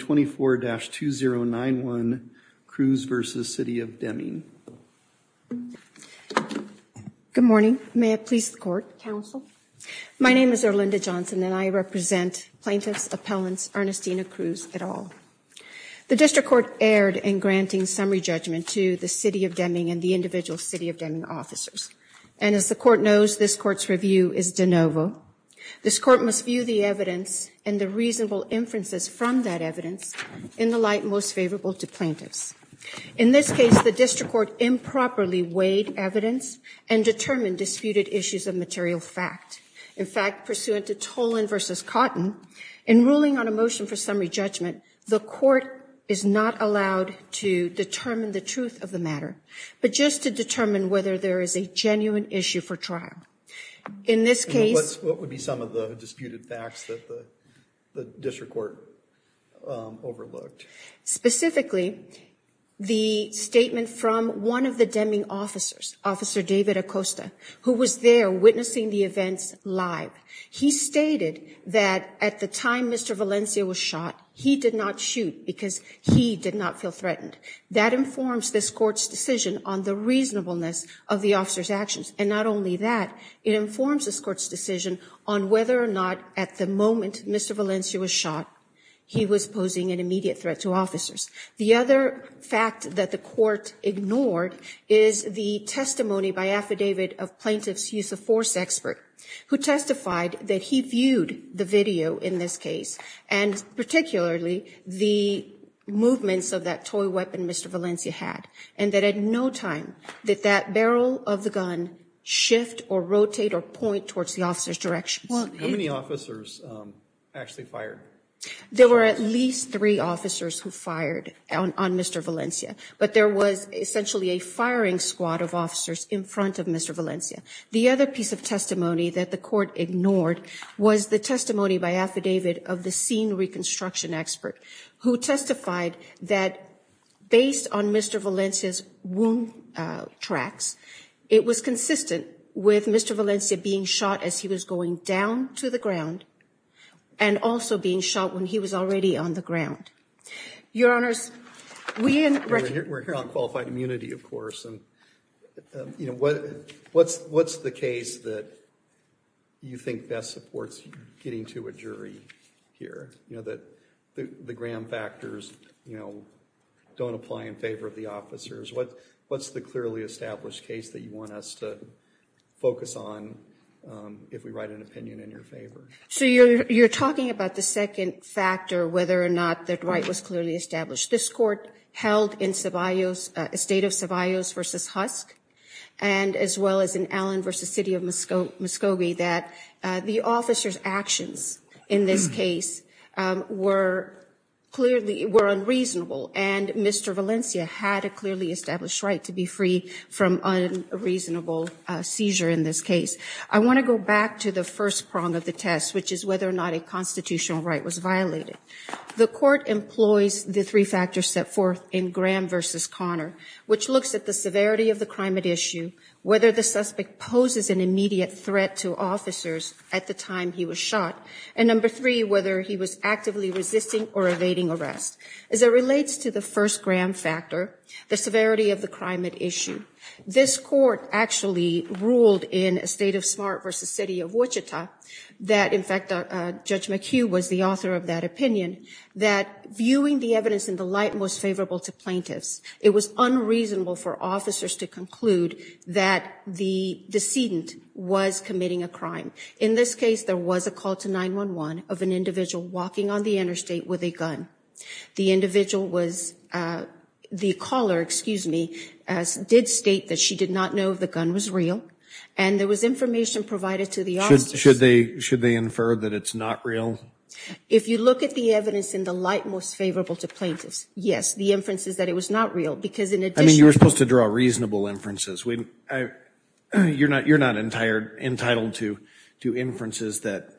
24-2091 Cruz v. City Of Deming Good morning, may it please the court, counsel. My name is Erlinda Johnson and I represent Plaintiffs Appellants Ernestina Cruz et al. The district court erred in granting summary judgment to the City Of Deming and the individual City Of Deming officers. And as the court knows, this court's review is de novo. This court must view the evidence and the reasonable inferences from that evidence in the light most favorable to plaintiffs. In this case, the district court improperly weighed evidence and determined disputed issues of material fact. In fact, pursuant to Tolan v. Cotton, in ruling on a motion for summary judgment, the court is not allowed to determine the truth of the matter, but just to determine whether there is a genuine issue for trial. In this case- What would be some of the disputed facts that the district court overlooked? Specifically, the statement from one of the Deming officers, Officer David Acosta, who was there witnessing the events live. He stated that at the time Mr. Valencia was shot, he did not shoot because he did not feel threatened. That informs this court's decision on the reasonableness of the officer's actions. And not only that, it informs this court's decision on whether or not at the moment Mr. Valencia was shot, he was posing an immediate threat to officers. The other fact that the court ignored is the testimony by affidavit of plaintiff's use of force expert, who testified that he viewed the video in this case, and particularly the movements of that toy weapon Mr. Valencia had. And that at no time did that barrel of the gun shift or rotate or point towards the officer's direction. How many officers actually fired? There were at least three officers who fired on Mr. Valencia, but there was essentially a firing squad of officers in front of Mr. Valencia. The other piece of testimony that the court ignored was the testimony by affidavit of the scene reconstruction expert, who testified that based on Mr. Valencia's wound tracks, it was consistent with Mr. Valencia being shot as he was going down to the ground, and also being shot when he was already on the ground. Your Honors, we- We're here on qualified immunity, of course, and what's the case that you think best supports getting to a jury here? You know, that the Graham factors, you know, don't apply in favor of the officers. What's the clearly established case that you want us to focus on if we write an opinion in your favor? So you're talking about the second factor, whether or not the right was clearly established. This court held in State of Savaios versus Husk, and as well as in Allen versus City of Muskogee, that the officer's actions in this case were clearly, were unreasonable, and Mr. Valencia had a clearly established right to be free from unreasonable seizure in this case. I want to go back to the first prong of the test, which is whether or not a constitutional right was violated. The court employs the three factors set forth in Graham versus Connor, which looks at the severity of the crime at issue, whether the suspect poses an immediate threat to officers at the time he was shot, and number three, whether he was actively resisting or evading arrest. As it relates to the first Graham factor, the severity of the crime at issue, this court actually ruled in a State of Smart versus City of Wichita that, in fact, Judge McHugh was the author of that opinion, that viewing the evidence in the light most favorable to plaintiffs, it was unreasonable for officers to conclude that the decedent was committing a crime. In this case, there was a call to 911 of an individual walking on the interstate with a gun. The individual was, the caller, excuse me, did state that she did not know if the gun was real, and there was information provided to the officers. Should they infer that it's not real? If you look at the evidence in the light most favorable to plaintiffs, yes, the inference is that it was not real, because in addition- I mean, you were supposed to draw reasonable inferences. You're not entitled to inferences that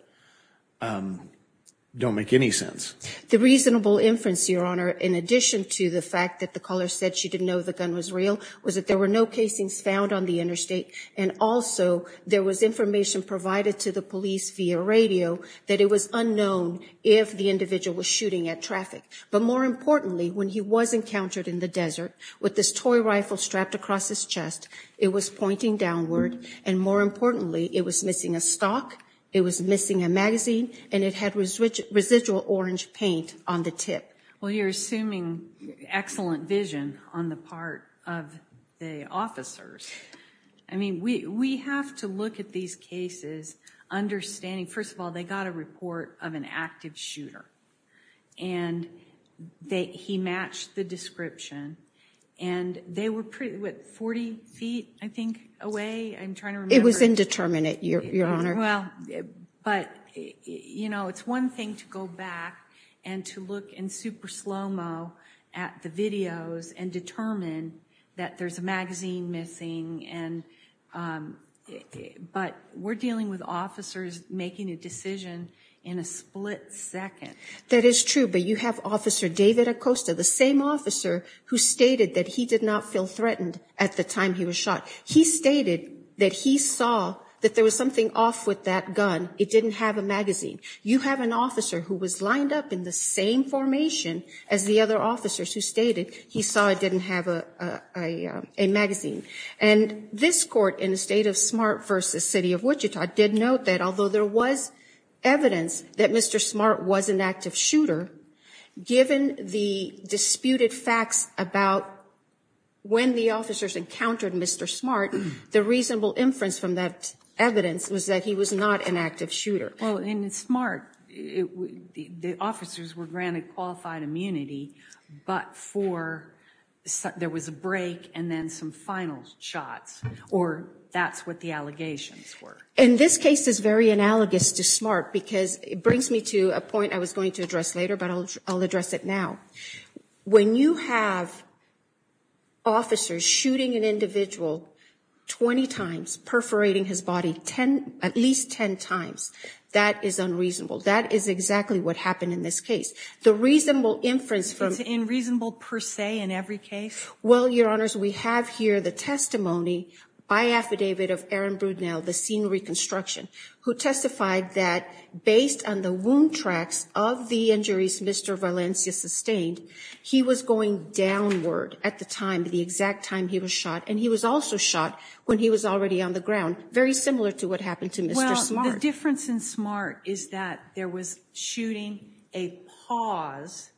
don't make any sense. The reasonable inference, Your Honor, in addition to the fact that the caller said she didn't know the gun was real, was that there were no casings found on the interstate, and also, there was information provided to the police via radio that it was unknown if the individual was shooting at traffic. But more importantly, when he was encountered in the desert with this toy rifle strapped across his chest, it was pointing downward, and more importantly, it was missing a stock, it was missing a magazine, and it had residual orange paint on the tip. Well, you're assuming excellent vision on the part of the officers. I mean, we have to look at these cases understanding, first of all, they got a report of an active shooter. And he matched the description, and they were pretty, what, 40 feet, I think, away? I'm trying to remember. It was indeterminate, Your Honor. Well, but it's one thing to go back and to look in super slo-mo at the videos and determine that there's a magazine missing, but we're dealing with officers making a decision in a split second. That is true, but you have Officer David Acosta, the same officer who stated that he did not feel threatened at the time he was shot. He stated that he saw that there was something off with that gun. It didn't have a magazine. You have an officer who was lined up in the same formation as the other officers who stated he saw it didn't have a magazine. And this court in the state of Smart versus City of Wichita did note that, although there was evidence that Mr. Smart was an active shooter, given the disputed facts about when the officers encountered Mr. Smart, the reasonable inference from that evidence was that he was not an active shooter. Well, in Smart, the officers were granted qualified immunity, but for, there was a break and then some final shots, or that's what the allegations were. In this case, it's very analogous to Smart because it brings me to a point I was going to address later, but I'll address it now. When you have officers shooting an individual 20 times, perforating his body at least 10 times, that is unreasonable. That is exactly what happened in this case. The reasonable inference from- It's unreasonable per se in every case? Well, Your Honors, we have here the testimony by affidavit of Aaron Brudnell, the scene reconstruction, who testified that based on the wound tracks of the injuries Mr. Valencia sustained, he was going downward at the time, the exact time he was shot. And he was also shot when he was already on the ground, very similar to what happened to Mr. Smart. The difference in Smart is that there was shooting a pause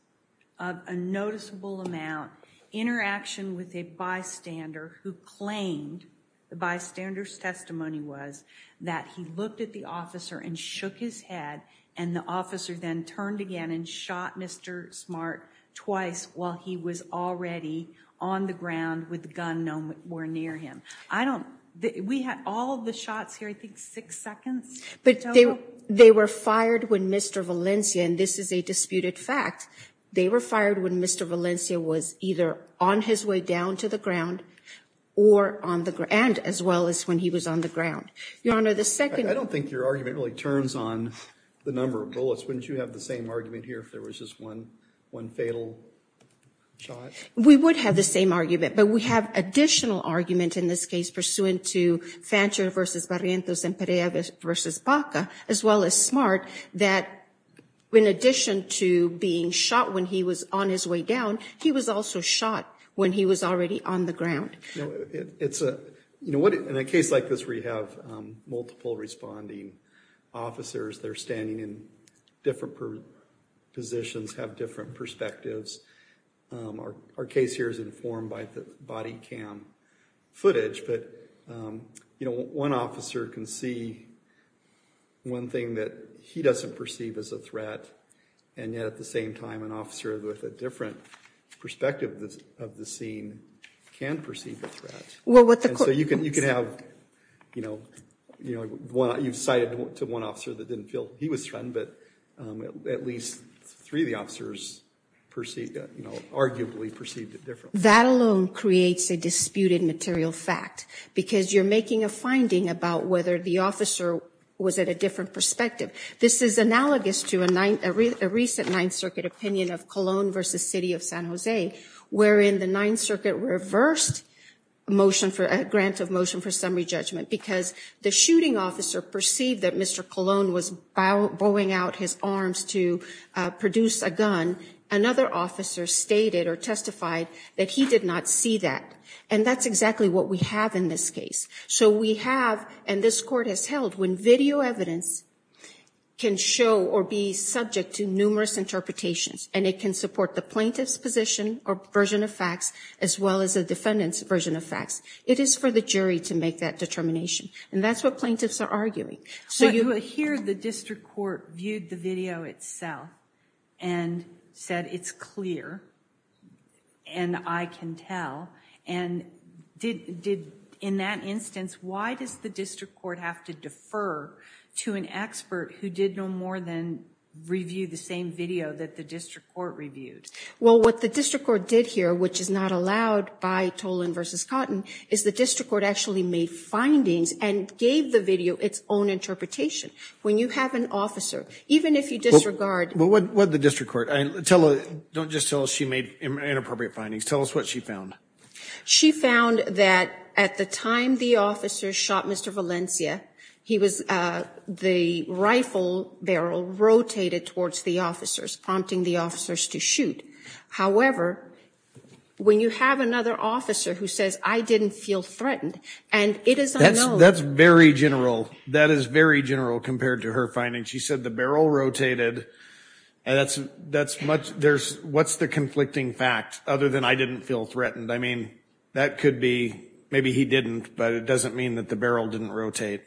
of a noticeable amount, interaction with a bystander who claimed, the bystander's testimony was, that he looked at the officer and shook his head, and the officer then turned again and shot Mr. Smart twice while he was already on the ground with the gun nowhere near him. I don't, we had all the shots here, I think six seconds in total? But they were fired when Mr. Valencia, and this is a disputed fact, they were fired when Mr. Valencia was either on his way down to the ground, or on the ground, and as well as when he was on the ground. Your Honor, the second- I don't think your argument really turns on the number of bullets. Wouldn't you have the same argument here if there was just one fatal shot? We would have the same argument, but we have additional argument in this case, pursuant to Fancher versus Barrientos and Perea versus Baca, as well as Smart, that in addition to being shot when he was on his way down, he was also shot when he was already on the ground. No, it's a, you know what, in a case like this where you have multiple responding officers that are standing in different positions, have different perspectives, our case here is informed by the body cam footage, but, you know, one officer can see one thing that he doesn't perceive as a threat, and yet at the same time, an officer with a different perspective of the scene can perceive a threat. Well, what the court- And so you can have, you know, you've cited to one officer that didn't feel he was threatened, but at least three of the officers, you know, arguably perceived it differently. That alone creates a disputed material fact, because you're making a finding about whether the officer was at a different perspective. This is analogous to a recent Ninth Circuit opinion of Colon versus City of San Jose, wherein the Ninth Circuit reversed a motion for, a grant of motion for summary judgment, because the shooting officer perceived that Mr. Colon was bowing out his arms to produce a gun. Another officer stated or testified that he did not see that, and that's exactly what we have in this case. So we have, and this court has held, when video evidence can show or be subject to numerous interpretations, and it can support the plaintiff's position or version of facts, as well as the defendant's version of facts, it is for the jury to make that determination, and that's what plaintiffs are arguing. So you would hear the district court viewed the video itself and said, it's clear and I can tell. And did, in that instance, why does the district court have to defer to an expert who did no more than review the same video that the district court reviewed? Well, what the district court did here, which is not allowed by Colon versus Cotton, is the district court actually made findings and gave the video its own interpretation. When you have an officer, even if you disregard... Well, what did the district court, don't just tell us she made inappropriate findings, tell us what she found. She found that at the time the officer shot Mr. Valencia, he was, the rifle barrel rotated towards the officers, prompting the officers to shoot. However, when you have another officer who says, I didn't feel threatened, and it is unknown... That's very general. That is very general compared to her findings. She said the barrel rotated. And that's, that's much, there's, what's the conflicting fact other than I didn't feel threatened? I mean, that could be, maybe he didn't, but it doesn't mean that the barrel didn't rotate.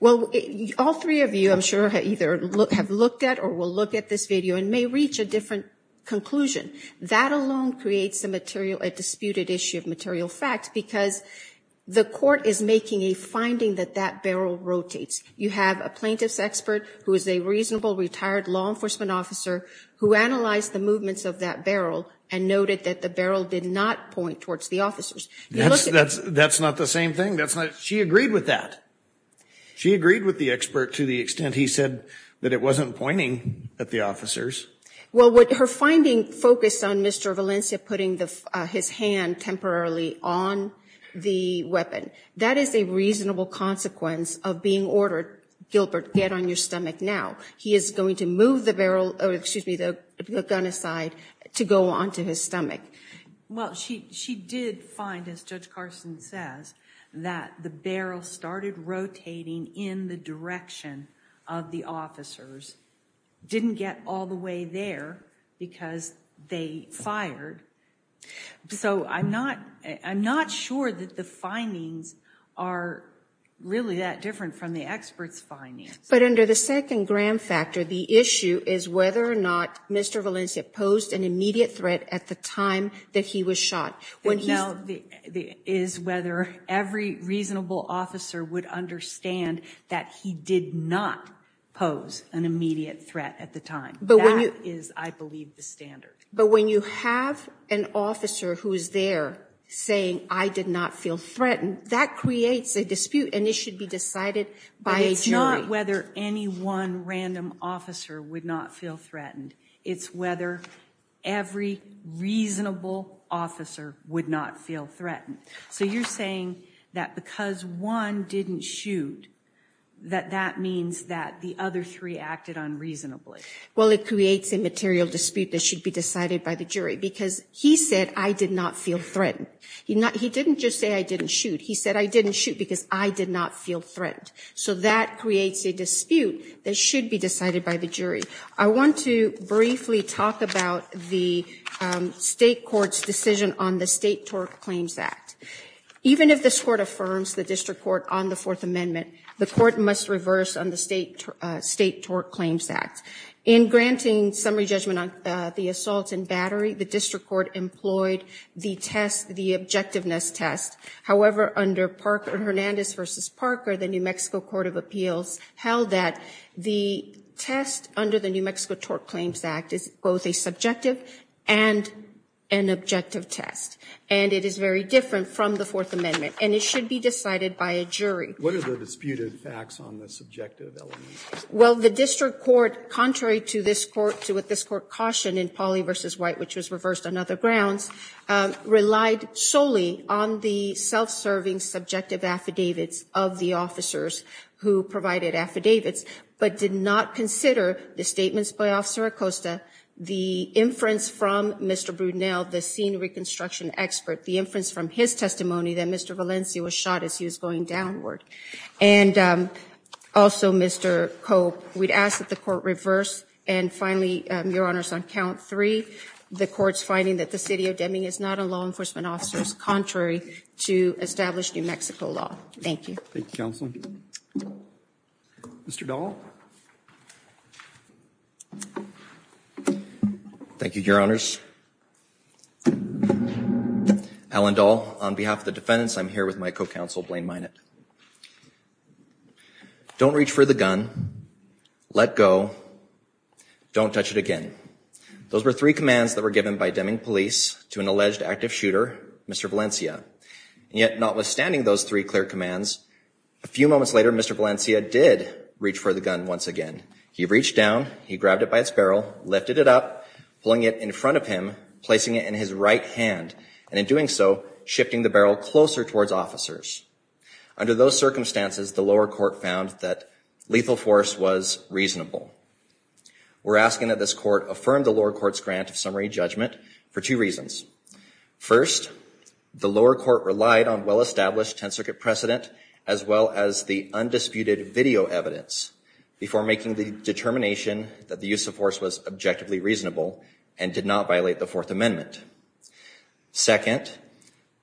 Well, all three of you, I'm sure, either have looked at or will look at this video and may reach a different conclusion. That alone creates a material, a disputed issue of material fact, because the court is making a finding that that barrel rotates. You have a plaintiff's expert who is a reasonable retired law enforcement officer who analyzed the movements of that barrel and noted that the barrel did not point towards the officers. That's, that's, that's not the same thing. That's not, she agreed with that. She agreed with the expert to the extent he said that it wasn't pointing at the officers. Well, her finding focused on Mr. Valencia putting his hand temporarily on the weapon. That is a reasonable consequence of being ordered, Gilbert, get on your stomach now. He is going to move the barrel, excuse me, the gun aside to go onto his stomach. Well, she, she did find, as Judge Carson says, that the barrel started rotating in the direction of the officers. Didn't get all the way there because they fired. So I'm not, I'm not sure that the findings are really that different from the expert's findings. But under the second gram factor, the issue is whether or not Mr. Valencia posed an immediate threat at the time that he was shot. When he's- No, the, the, is whether every reasonable officer would understand that he did not pose an immediate threat at the time. That is, I believe, the standard. But when you have an officer who is there saying, I did not feel threatened, that creates a dispute and it should be decided by a jury. It's not whether any one random officer would not feel threatened. It's whether every reasonable officer would not feel threatened. So you're saying that because one didn't shoot, that that means that the other three acted unreasonably. Well, it creates a material dispute that should be decided by the jury because he said I did not feel threatened. He not, he didn't just say I didn't shoot. He said I didn't shoot because I did not feel threatened. So that creates a dispute that should be decided by the jury. I want to briefly talk about the state court's decision on the State Tort Claims Act. Even if this court affirms the district court on the Fourth Amendment, the court must reverse on the State Tort Claims Act. In granting summary judgment on the assault and battery, the district court employed the test, the objectiveness test. However, under Parker, Hernandez v. Parker, the New Mexico Court of Appeals held that the test under the New Mexico Tort Claims Act is both a subjective and an objective test. And it is very different from the Fourth Amendment. And it should be decided by a jury. What are the disputed facts on the subjective elements? Well, the district court, contrary to this court, to what this court cautioned in Polly v. White, which was reversed on other grounds, relied solely on the self-serving subjective affidavits of the officers who provided affidavits, but did not consider the statements by Officer Acosta, the inference from Mr. Brunel, the scene reconstruction expert, the inference from his testimony that Mr. Valencia was shot as he was going downward. And also, Mr. Cope, we'd ask that the court reverse. And finally, Your Honors, on count three, the court's finding that the City of Deming is not on law enforcement officers, contrary to established New Mexico law. Thank you. Thank you, Counsel. Mr. Dahl. Thank you, Your Honors. Alan Dahl, on behalf of the defendants, I'm here with my co-counsel Blaine Minot. Don't reach for the gun, let go, don't touch it again. Those were three commands that were given by Deming police to an alleged active shooter, Mr. Valencia. And yet, notwithstanding those three clear commands, a few moments later, Mr. Valencia did reach for the gun once again. He reached down, he grabbed it by its barrel, lifted it up, pulling it in front of him, placing it in his right hand, and in doing so, shifting the barrel closer towards officers. Under those circumstances, the lower court found that lethal force was reasonable. We're asking that this court affirm the lower court's grant of summary judgment for two reasons. First, the lower court relied on well-established Tenth Circuit precedent, as well as the undisputed video evidence, before making the determination that the use of force was objectively reasonable and did not violate the Fourth Amendment. Second,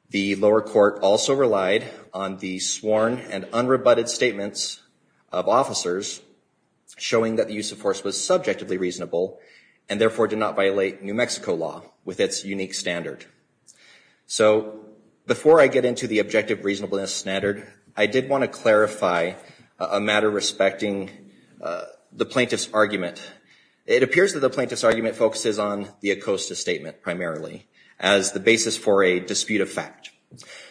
the lower court also relied on the sworn and unrebutted statements of officers, showing that the use of force was subjectively reasonable, and therefore did not violate New Mexico law with its unique standard. So, before I get into the objective reasonableness standard, I did want to clarify a matter respecting the plaintiff's argument. It appears that the plaintiff's argument focuses on the Acosta statement primarily, as the basis for a dispute of fact.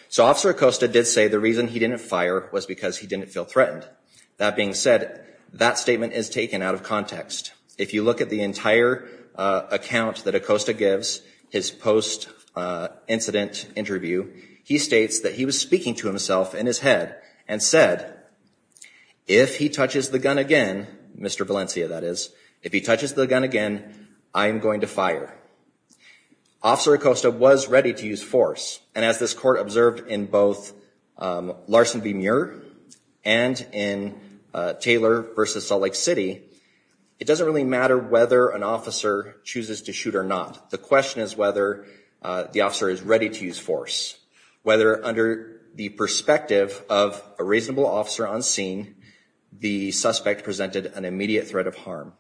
So, Officer Acosta did say the reason he didn't fire was because he didn't feel threatened. That being said, that statement is taken out of context. If you look at the entire account that Acosta gives, his post-incident interview, he states that he was speaking to himself in his head and said, if he touches the gun again, Mr. Valencia, that is, if he touches the gun again, I am going to fire. Officer Acosta was ready to use force, and as this court observed in both Larson v. Muir and in Taylor v. Salt Lake City, it doesn't really matter whether an officer chooses to shoot or not. The question is whether the officer is ready to use force, whether under the perspective of a reasonable officer on scene, the suspect presented an immediate threat of harm.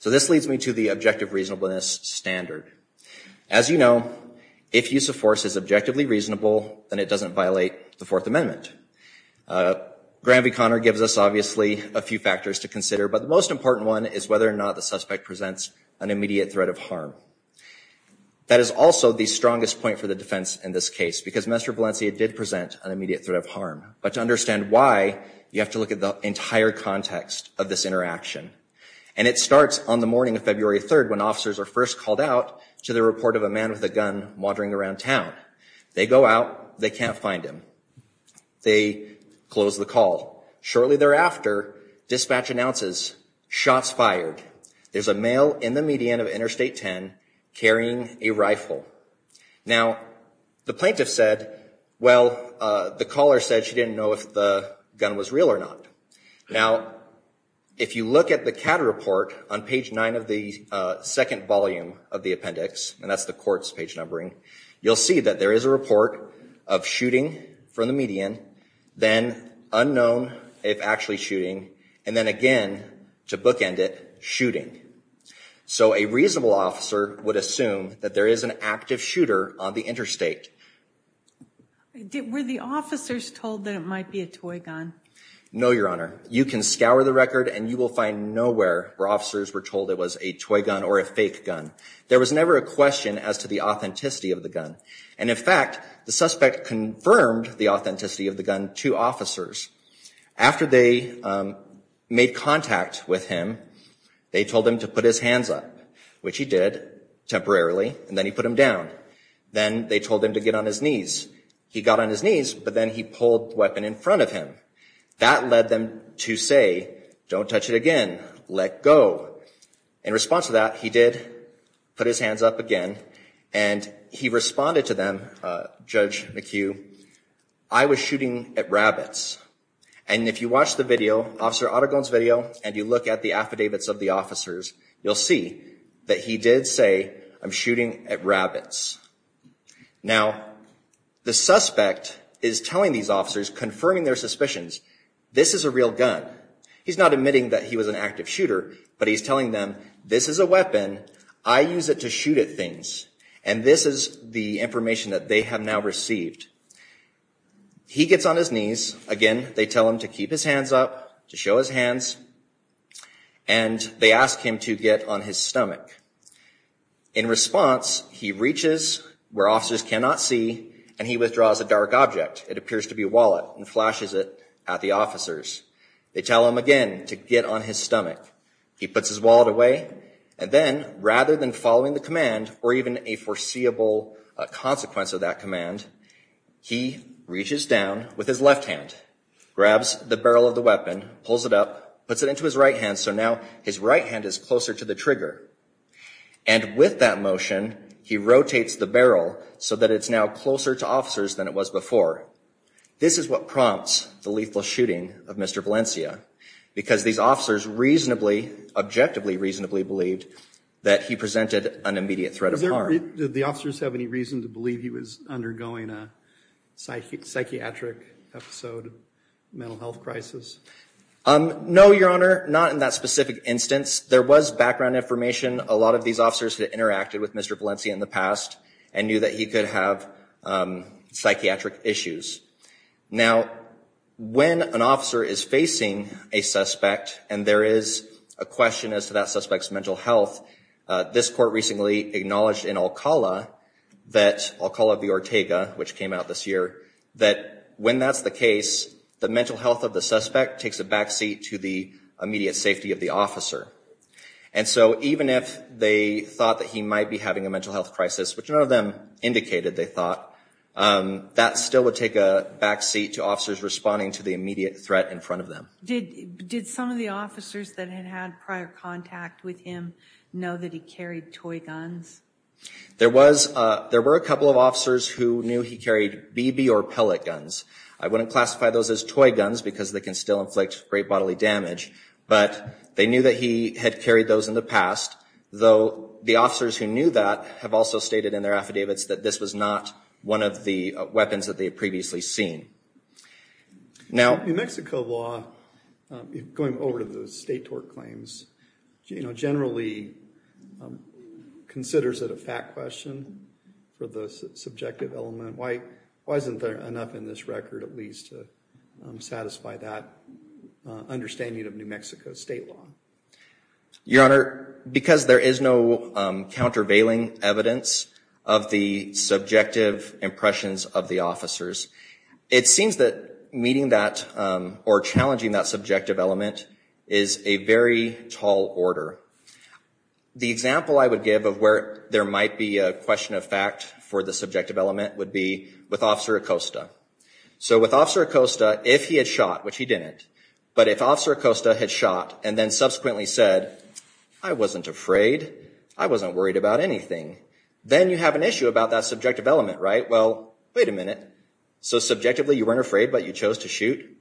So, this leads me to the objective reasonableness standard. As you know, if use of force is objectively reasonable, then it doesn't violate the Fourth Amendment. Graham v. Conner gives us, obviously, a few factors to consider, but the most important one is whether or not the suspect presents an immediate threat of harm. That is also the strongest point for the defense in this case, because Mr. Valencia did present an immediate threat of harm. But to understand why, you have to look at the entire context of this interaction. And it starts on the morning of February 3rd, when officers are first called out to the report of a man with a gun wandering around town. They go out. They can't find him. They close the call. Shortly thereafter, dispatch announces, shots fired. There's a male in the median of Interstate 10 carrying a rifle. Now, the plaintiff said, well, the caller said she didn't know if the gun was real or not. Now, if you look at the CAT report on page 9 of the second volume of the appendix, and that's the court's page numbering, you'll see that there is a report of shooting from the median, then unknown, if actually shooting, and then again, to bookend it, shooting. So a reasonable officer would assume that there is an active shooter on the interstate. Were the officers told that it might be a toy gun? No, Your Honor. You can scour the record and you will find nowhere where officers were told it was a toy gun or a fake gun. There was never a question as to the authenticity of the gun. And in fact, the suspect confirmed the authenticity of the gun to officers. After they made contact with him, they told him to put his hands up, which he did temporarily, and then he put them down. Then they told him to get on his knees. He got on his knees, but then he pulled the weapon in front of him. That led them to say, don't touch it again. Let go. In response to that, he did put his hands up again, and he responded to them, Judge McHugh, I was shooting at rabbits. And if you watch the video, Officer Autogone's video, and you look at the affidavits of the officers, you'll see that he did say, I'm shooting at rabbits. Now, the suspect is telling these officers, confirming their suspicions, this is a real gun. He's not admitting that he was an active shooter, but he's telling them, this is a weapon. I use it to shoot at things. And this is the information that they have now received. He gets on his knees. Again, they tell him to keep his hands up, to show his hands, and they ask him to get on his stomach. In response, he reaches where officers cannot see, and he withdraws a dark object. It appears to be a wallet, and flashes it at the officers. They tell him again to get on his stomach. He puts his wallet away, and then, rather than following the command, or even a foreseeable consequence of that command, he reaches down with his left hand, grabs the barrel of the weapon, pulls it up, puts it into his right hand, so now his right hand is closer to the trigger. And with that motion, he rotates the barrel so that it's now closer to officers than it was before. This is what prompts the lethal shooting of Mr. Valencia. Because these officers reasonably, objectively reasonably, believed that he presented an immediate threat of harm. Did the officers have any reason to believe he was undergoing a psychiatric episode, mental health crisis? No, your honor. Not in that specific instance. There was background information. A lot of these officers had interacted with Mr. Valencia in the past, and knew that he could have psychiatric issues. Now, when an officer is facing a suspect, and there is a question as to that suspect's mental health, this court recently acknowledged in Alcala that, Alcala v. Ortega, which came out this year, that when that's the case, the mental health of the suspect takes a back seat to the immediate safety of the officer. And so, even if they thought that he might be having a mental health crisis, which none of them indicated they thought, that still would take a back seat to officers responding to the immediate threat in front of them. Did some of the officers that had had prior contact with him know that he carried toy guns? There were a couple of officers who knew he carried BB or pellet guns. I wouldn't classify those as toy guns, because they can still inflict great bodily damage. But they knew that he had carried those in the past, though the officers who knew that have also stated in their affidavits that this was not one of the weapons that they had previously seen. Now, New Mexico law, going over to the state tort claims, you know, generally considers it a fact question for the subjective element. Wasn't there enough in this record, at least, to satisfy that understanding of New Mexico state law? Your Honor, because there is no countervailing evidence of the subjective impressions of the officers, it seems that meeting that or challenging that subjective element is a very tall order. The example I would give of where there might be a question of fact for the subjective element would be with Officer Acosta. So with Officer Acosta, if he had shot, which he didn't, but if Officer Acosta had shot and then subsequently said, I wasn't afraid, I wasn't worried about anything, then you have an issue about that subjective element, right? Well, wait a minute. So subjectively, you weren't afraid, but you chose to shoot?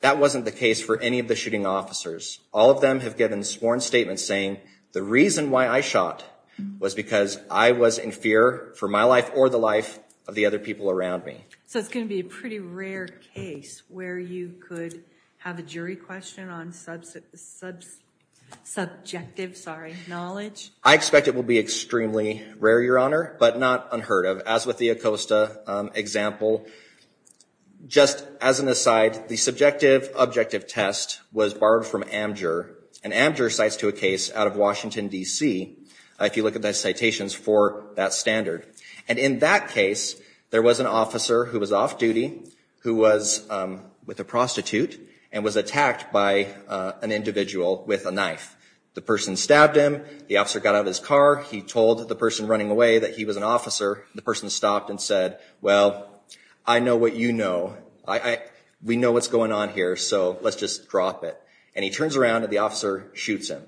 That wasn't the case for any of the shooting officers. All of them have given sworn statements saying, the reason why I shot was because I was in fear for my life or the life of the other people around me. So it's going to be a pretty rare case where you could have a jury question on subjective, sorry, knowledge? I expect it will be extremely rare, Your Honor, but not unheard of. As with the Acosta example, just as an aside, the subjective objective test was borrowed from Amgur, and Amgur cites to a case out of Washington, D.C. If you look at those citations for that standard. And in that case, there was an officer who was off duty, who was with a prostitute, and was attacked by an individual with a knife. The person stabbed him. The officer got out of his car. He told the person running away that he was an officer. The person stopped and said, well, I know what you know. We know what's going on here, so let's just drop it. And he turns around and the officer shoots him.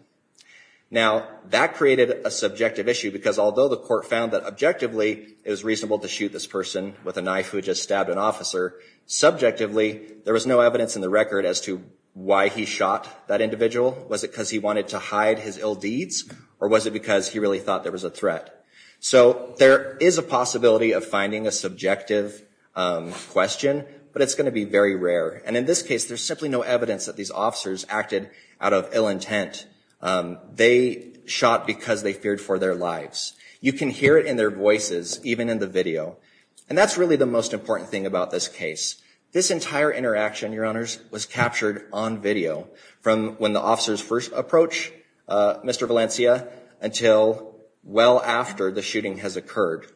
Now, that created a subjective issue, because although the court found that objectively, it was reasonable to shoot this person with a knife who just stabbed an officer, subjectively, there was no evidence in the record as to why he shot that individual. Was it because he wanted to hide his ill deeds? Or was it because he really thought there was a threat? So there is a possibility of finding a subjective question, but it's going to be very rare. And in this case, there's simply no evidence that these officers acted out of ill intent. They shot because they feared for their lives. You can hear it in their voices, even in the video. And that's really the most important thing about this case. This entire interaction, Your Honors, was captured on video, from when the officers first approached Mr. Valencia until well after the shooting has occurred.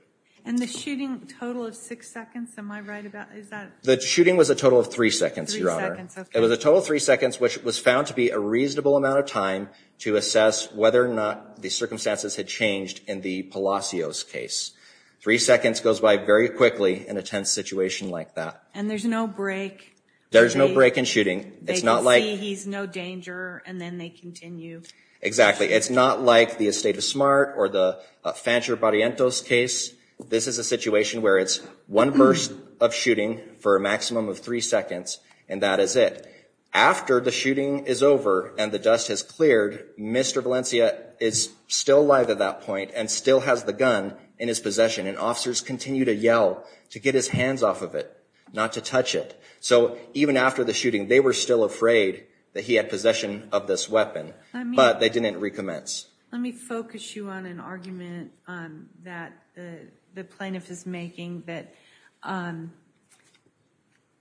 And the shooting total of six seconds, am I right about that? The shooting was a total of three seconds, Your Honor. It was a total of three seconds, which was found to be a reasonable amount of time to assess whether or not the circumstances had changed in the Palacios case. Three seconds goes by very quickly in a tense situation like that. And there's no break. There's no break in shooting. They can see he's no danger, and then they continue. Exactly. It's not like the Estate of Smart or the Fancher-Barrientos case. This is a situation where it's one burst of shooting for a maximum of three seconds, and that is it. After the shooting is over and the dust has cleared, Mr. Valencia is still alive at that point and still has the gun in his possession. And officers continue to yell to get his hands off of it, not to touch it. So even after the shooting, they were still afraid that he had possession of this weapon. But they didn't recommence. Let me focus you on an argument that the plaintiff is making that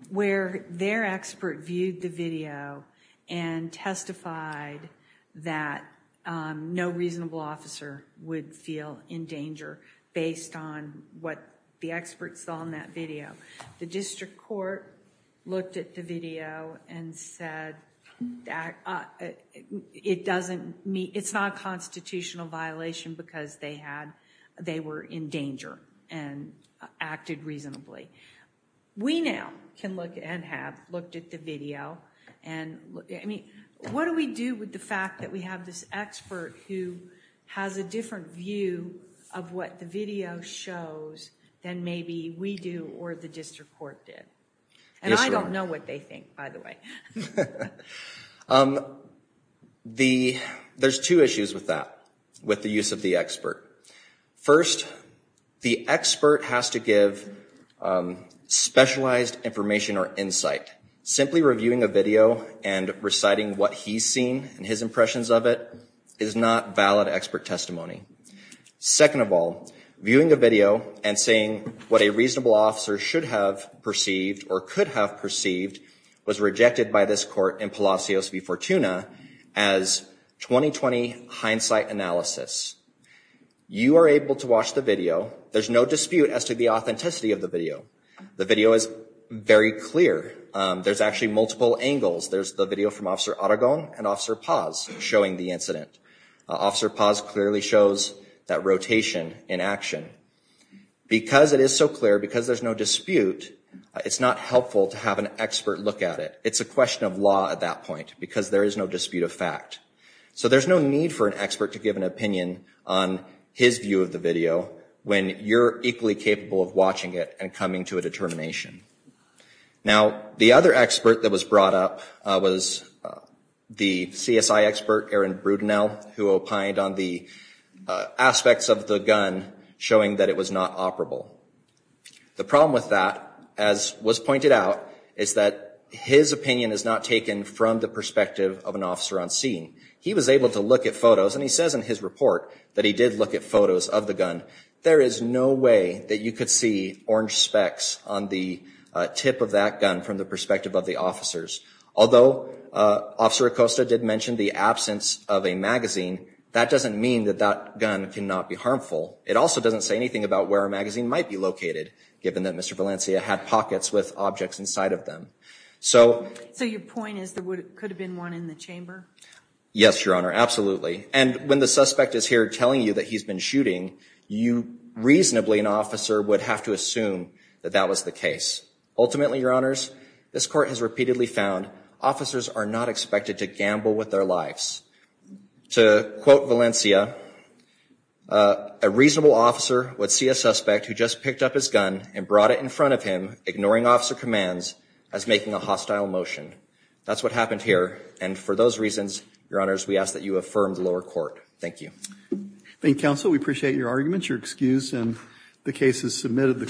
where their expert viewed the video and testified that no reasonable officer would feel in danger based on what the experts saw in that video. The district court looked at the video and said it's not a constitutional violation because they were in danger and acted reasonably. We now can look and have looked at the video. What do we do with the fact that we have this expert who has a different view of what the video shows than maybe we do or the district court did? And I don't know what they think, by the way. There's two issues with that, with the use of the expert. First, the expert has to give specialized information or insight. Simply reviewing a video and reciting what he's seen and his impressions of it is not valid expert testimony. Second of all, viewing a video and saying what a reasonable officer should have perceived or could have perceived was rejected by this court in Palacios v. Fortuna as 20-20 hindsight analysis. You are able to watch the video. There's no dispute as to the authenticity of the video. The video is very clear. There's actually multiple angles. There's the video from Officer Aragon and Officer Paz showing the incident. Officer Paz clearly shows that rotation in action. Because it is so clear, because there's no dispute, it's not helpful to have an expert look at it. It's a question of law at that point because there is no dispute of fact. So there's no need for an expert to give an opinion on his view of the video when you're equally capable of watching it and coming to a determination. Now, the other expert that was brought up was the CSI expert Aaron Brudinel who opined on the aspects of the gun showing that it was not operable. The problem with that, as was pointed out, is that his opinion is not taken from the perspective of an officer on scene. He was able to look at photos, and he says in his report that he did look at photos of the gun. There is no way that you could see orange specks on the tip of that gun from the perspective of the officers. Although Officer Acosta did mention the absence of a magazine, that doesn't mean that that gun cannot be harmful. It also doesn't say anything about where a magazine might be located, given that Mr. Valencia had pockets with objects inside of them. So your point is there could have been one in the chamber? Yes, Your Honor, absolutely. And when the suspect is here telling you that he's been shooting, you reasonably, an officer, would have to assume that that was the case. Ultimately, Your Honors, this Court has repeatedly found officers are not expected to gamble with their lives. To quote Valencia, a reasonable officer would see a suspect who just picked up his gun and brought it in front of him, ignoring officer commands, as making a hostile motion. That's what happened here, and for those reasons, Your Honors, we ask that you affirm the lower court. Thank you. Thank you, Counsel. We appreciate your arguments. You're excused, and the case is submitted.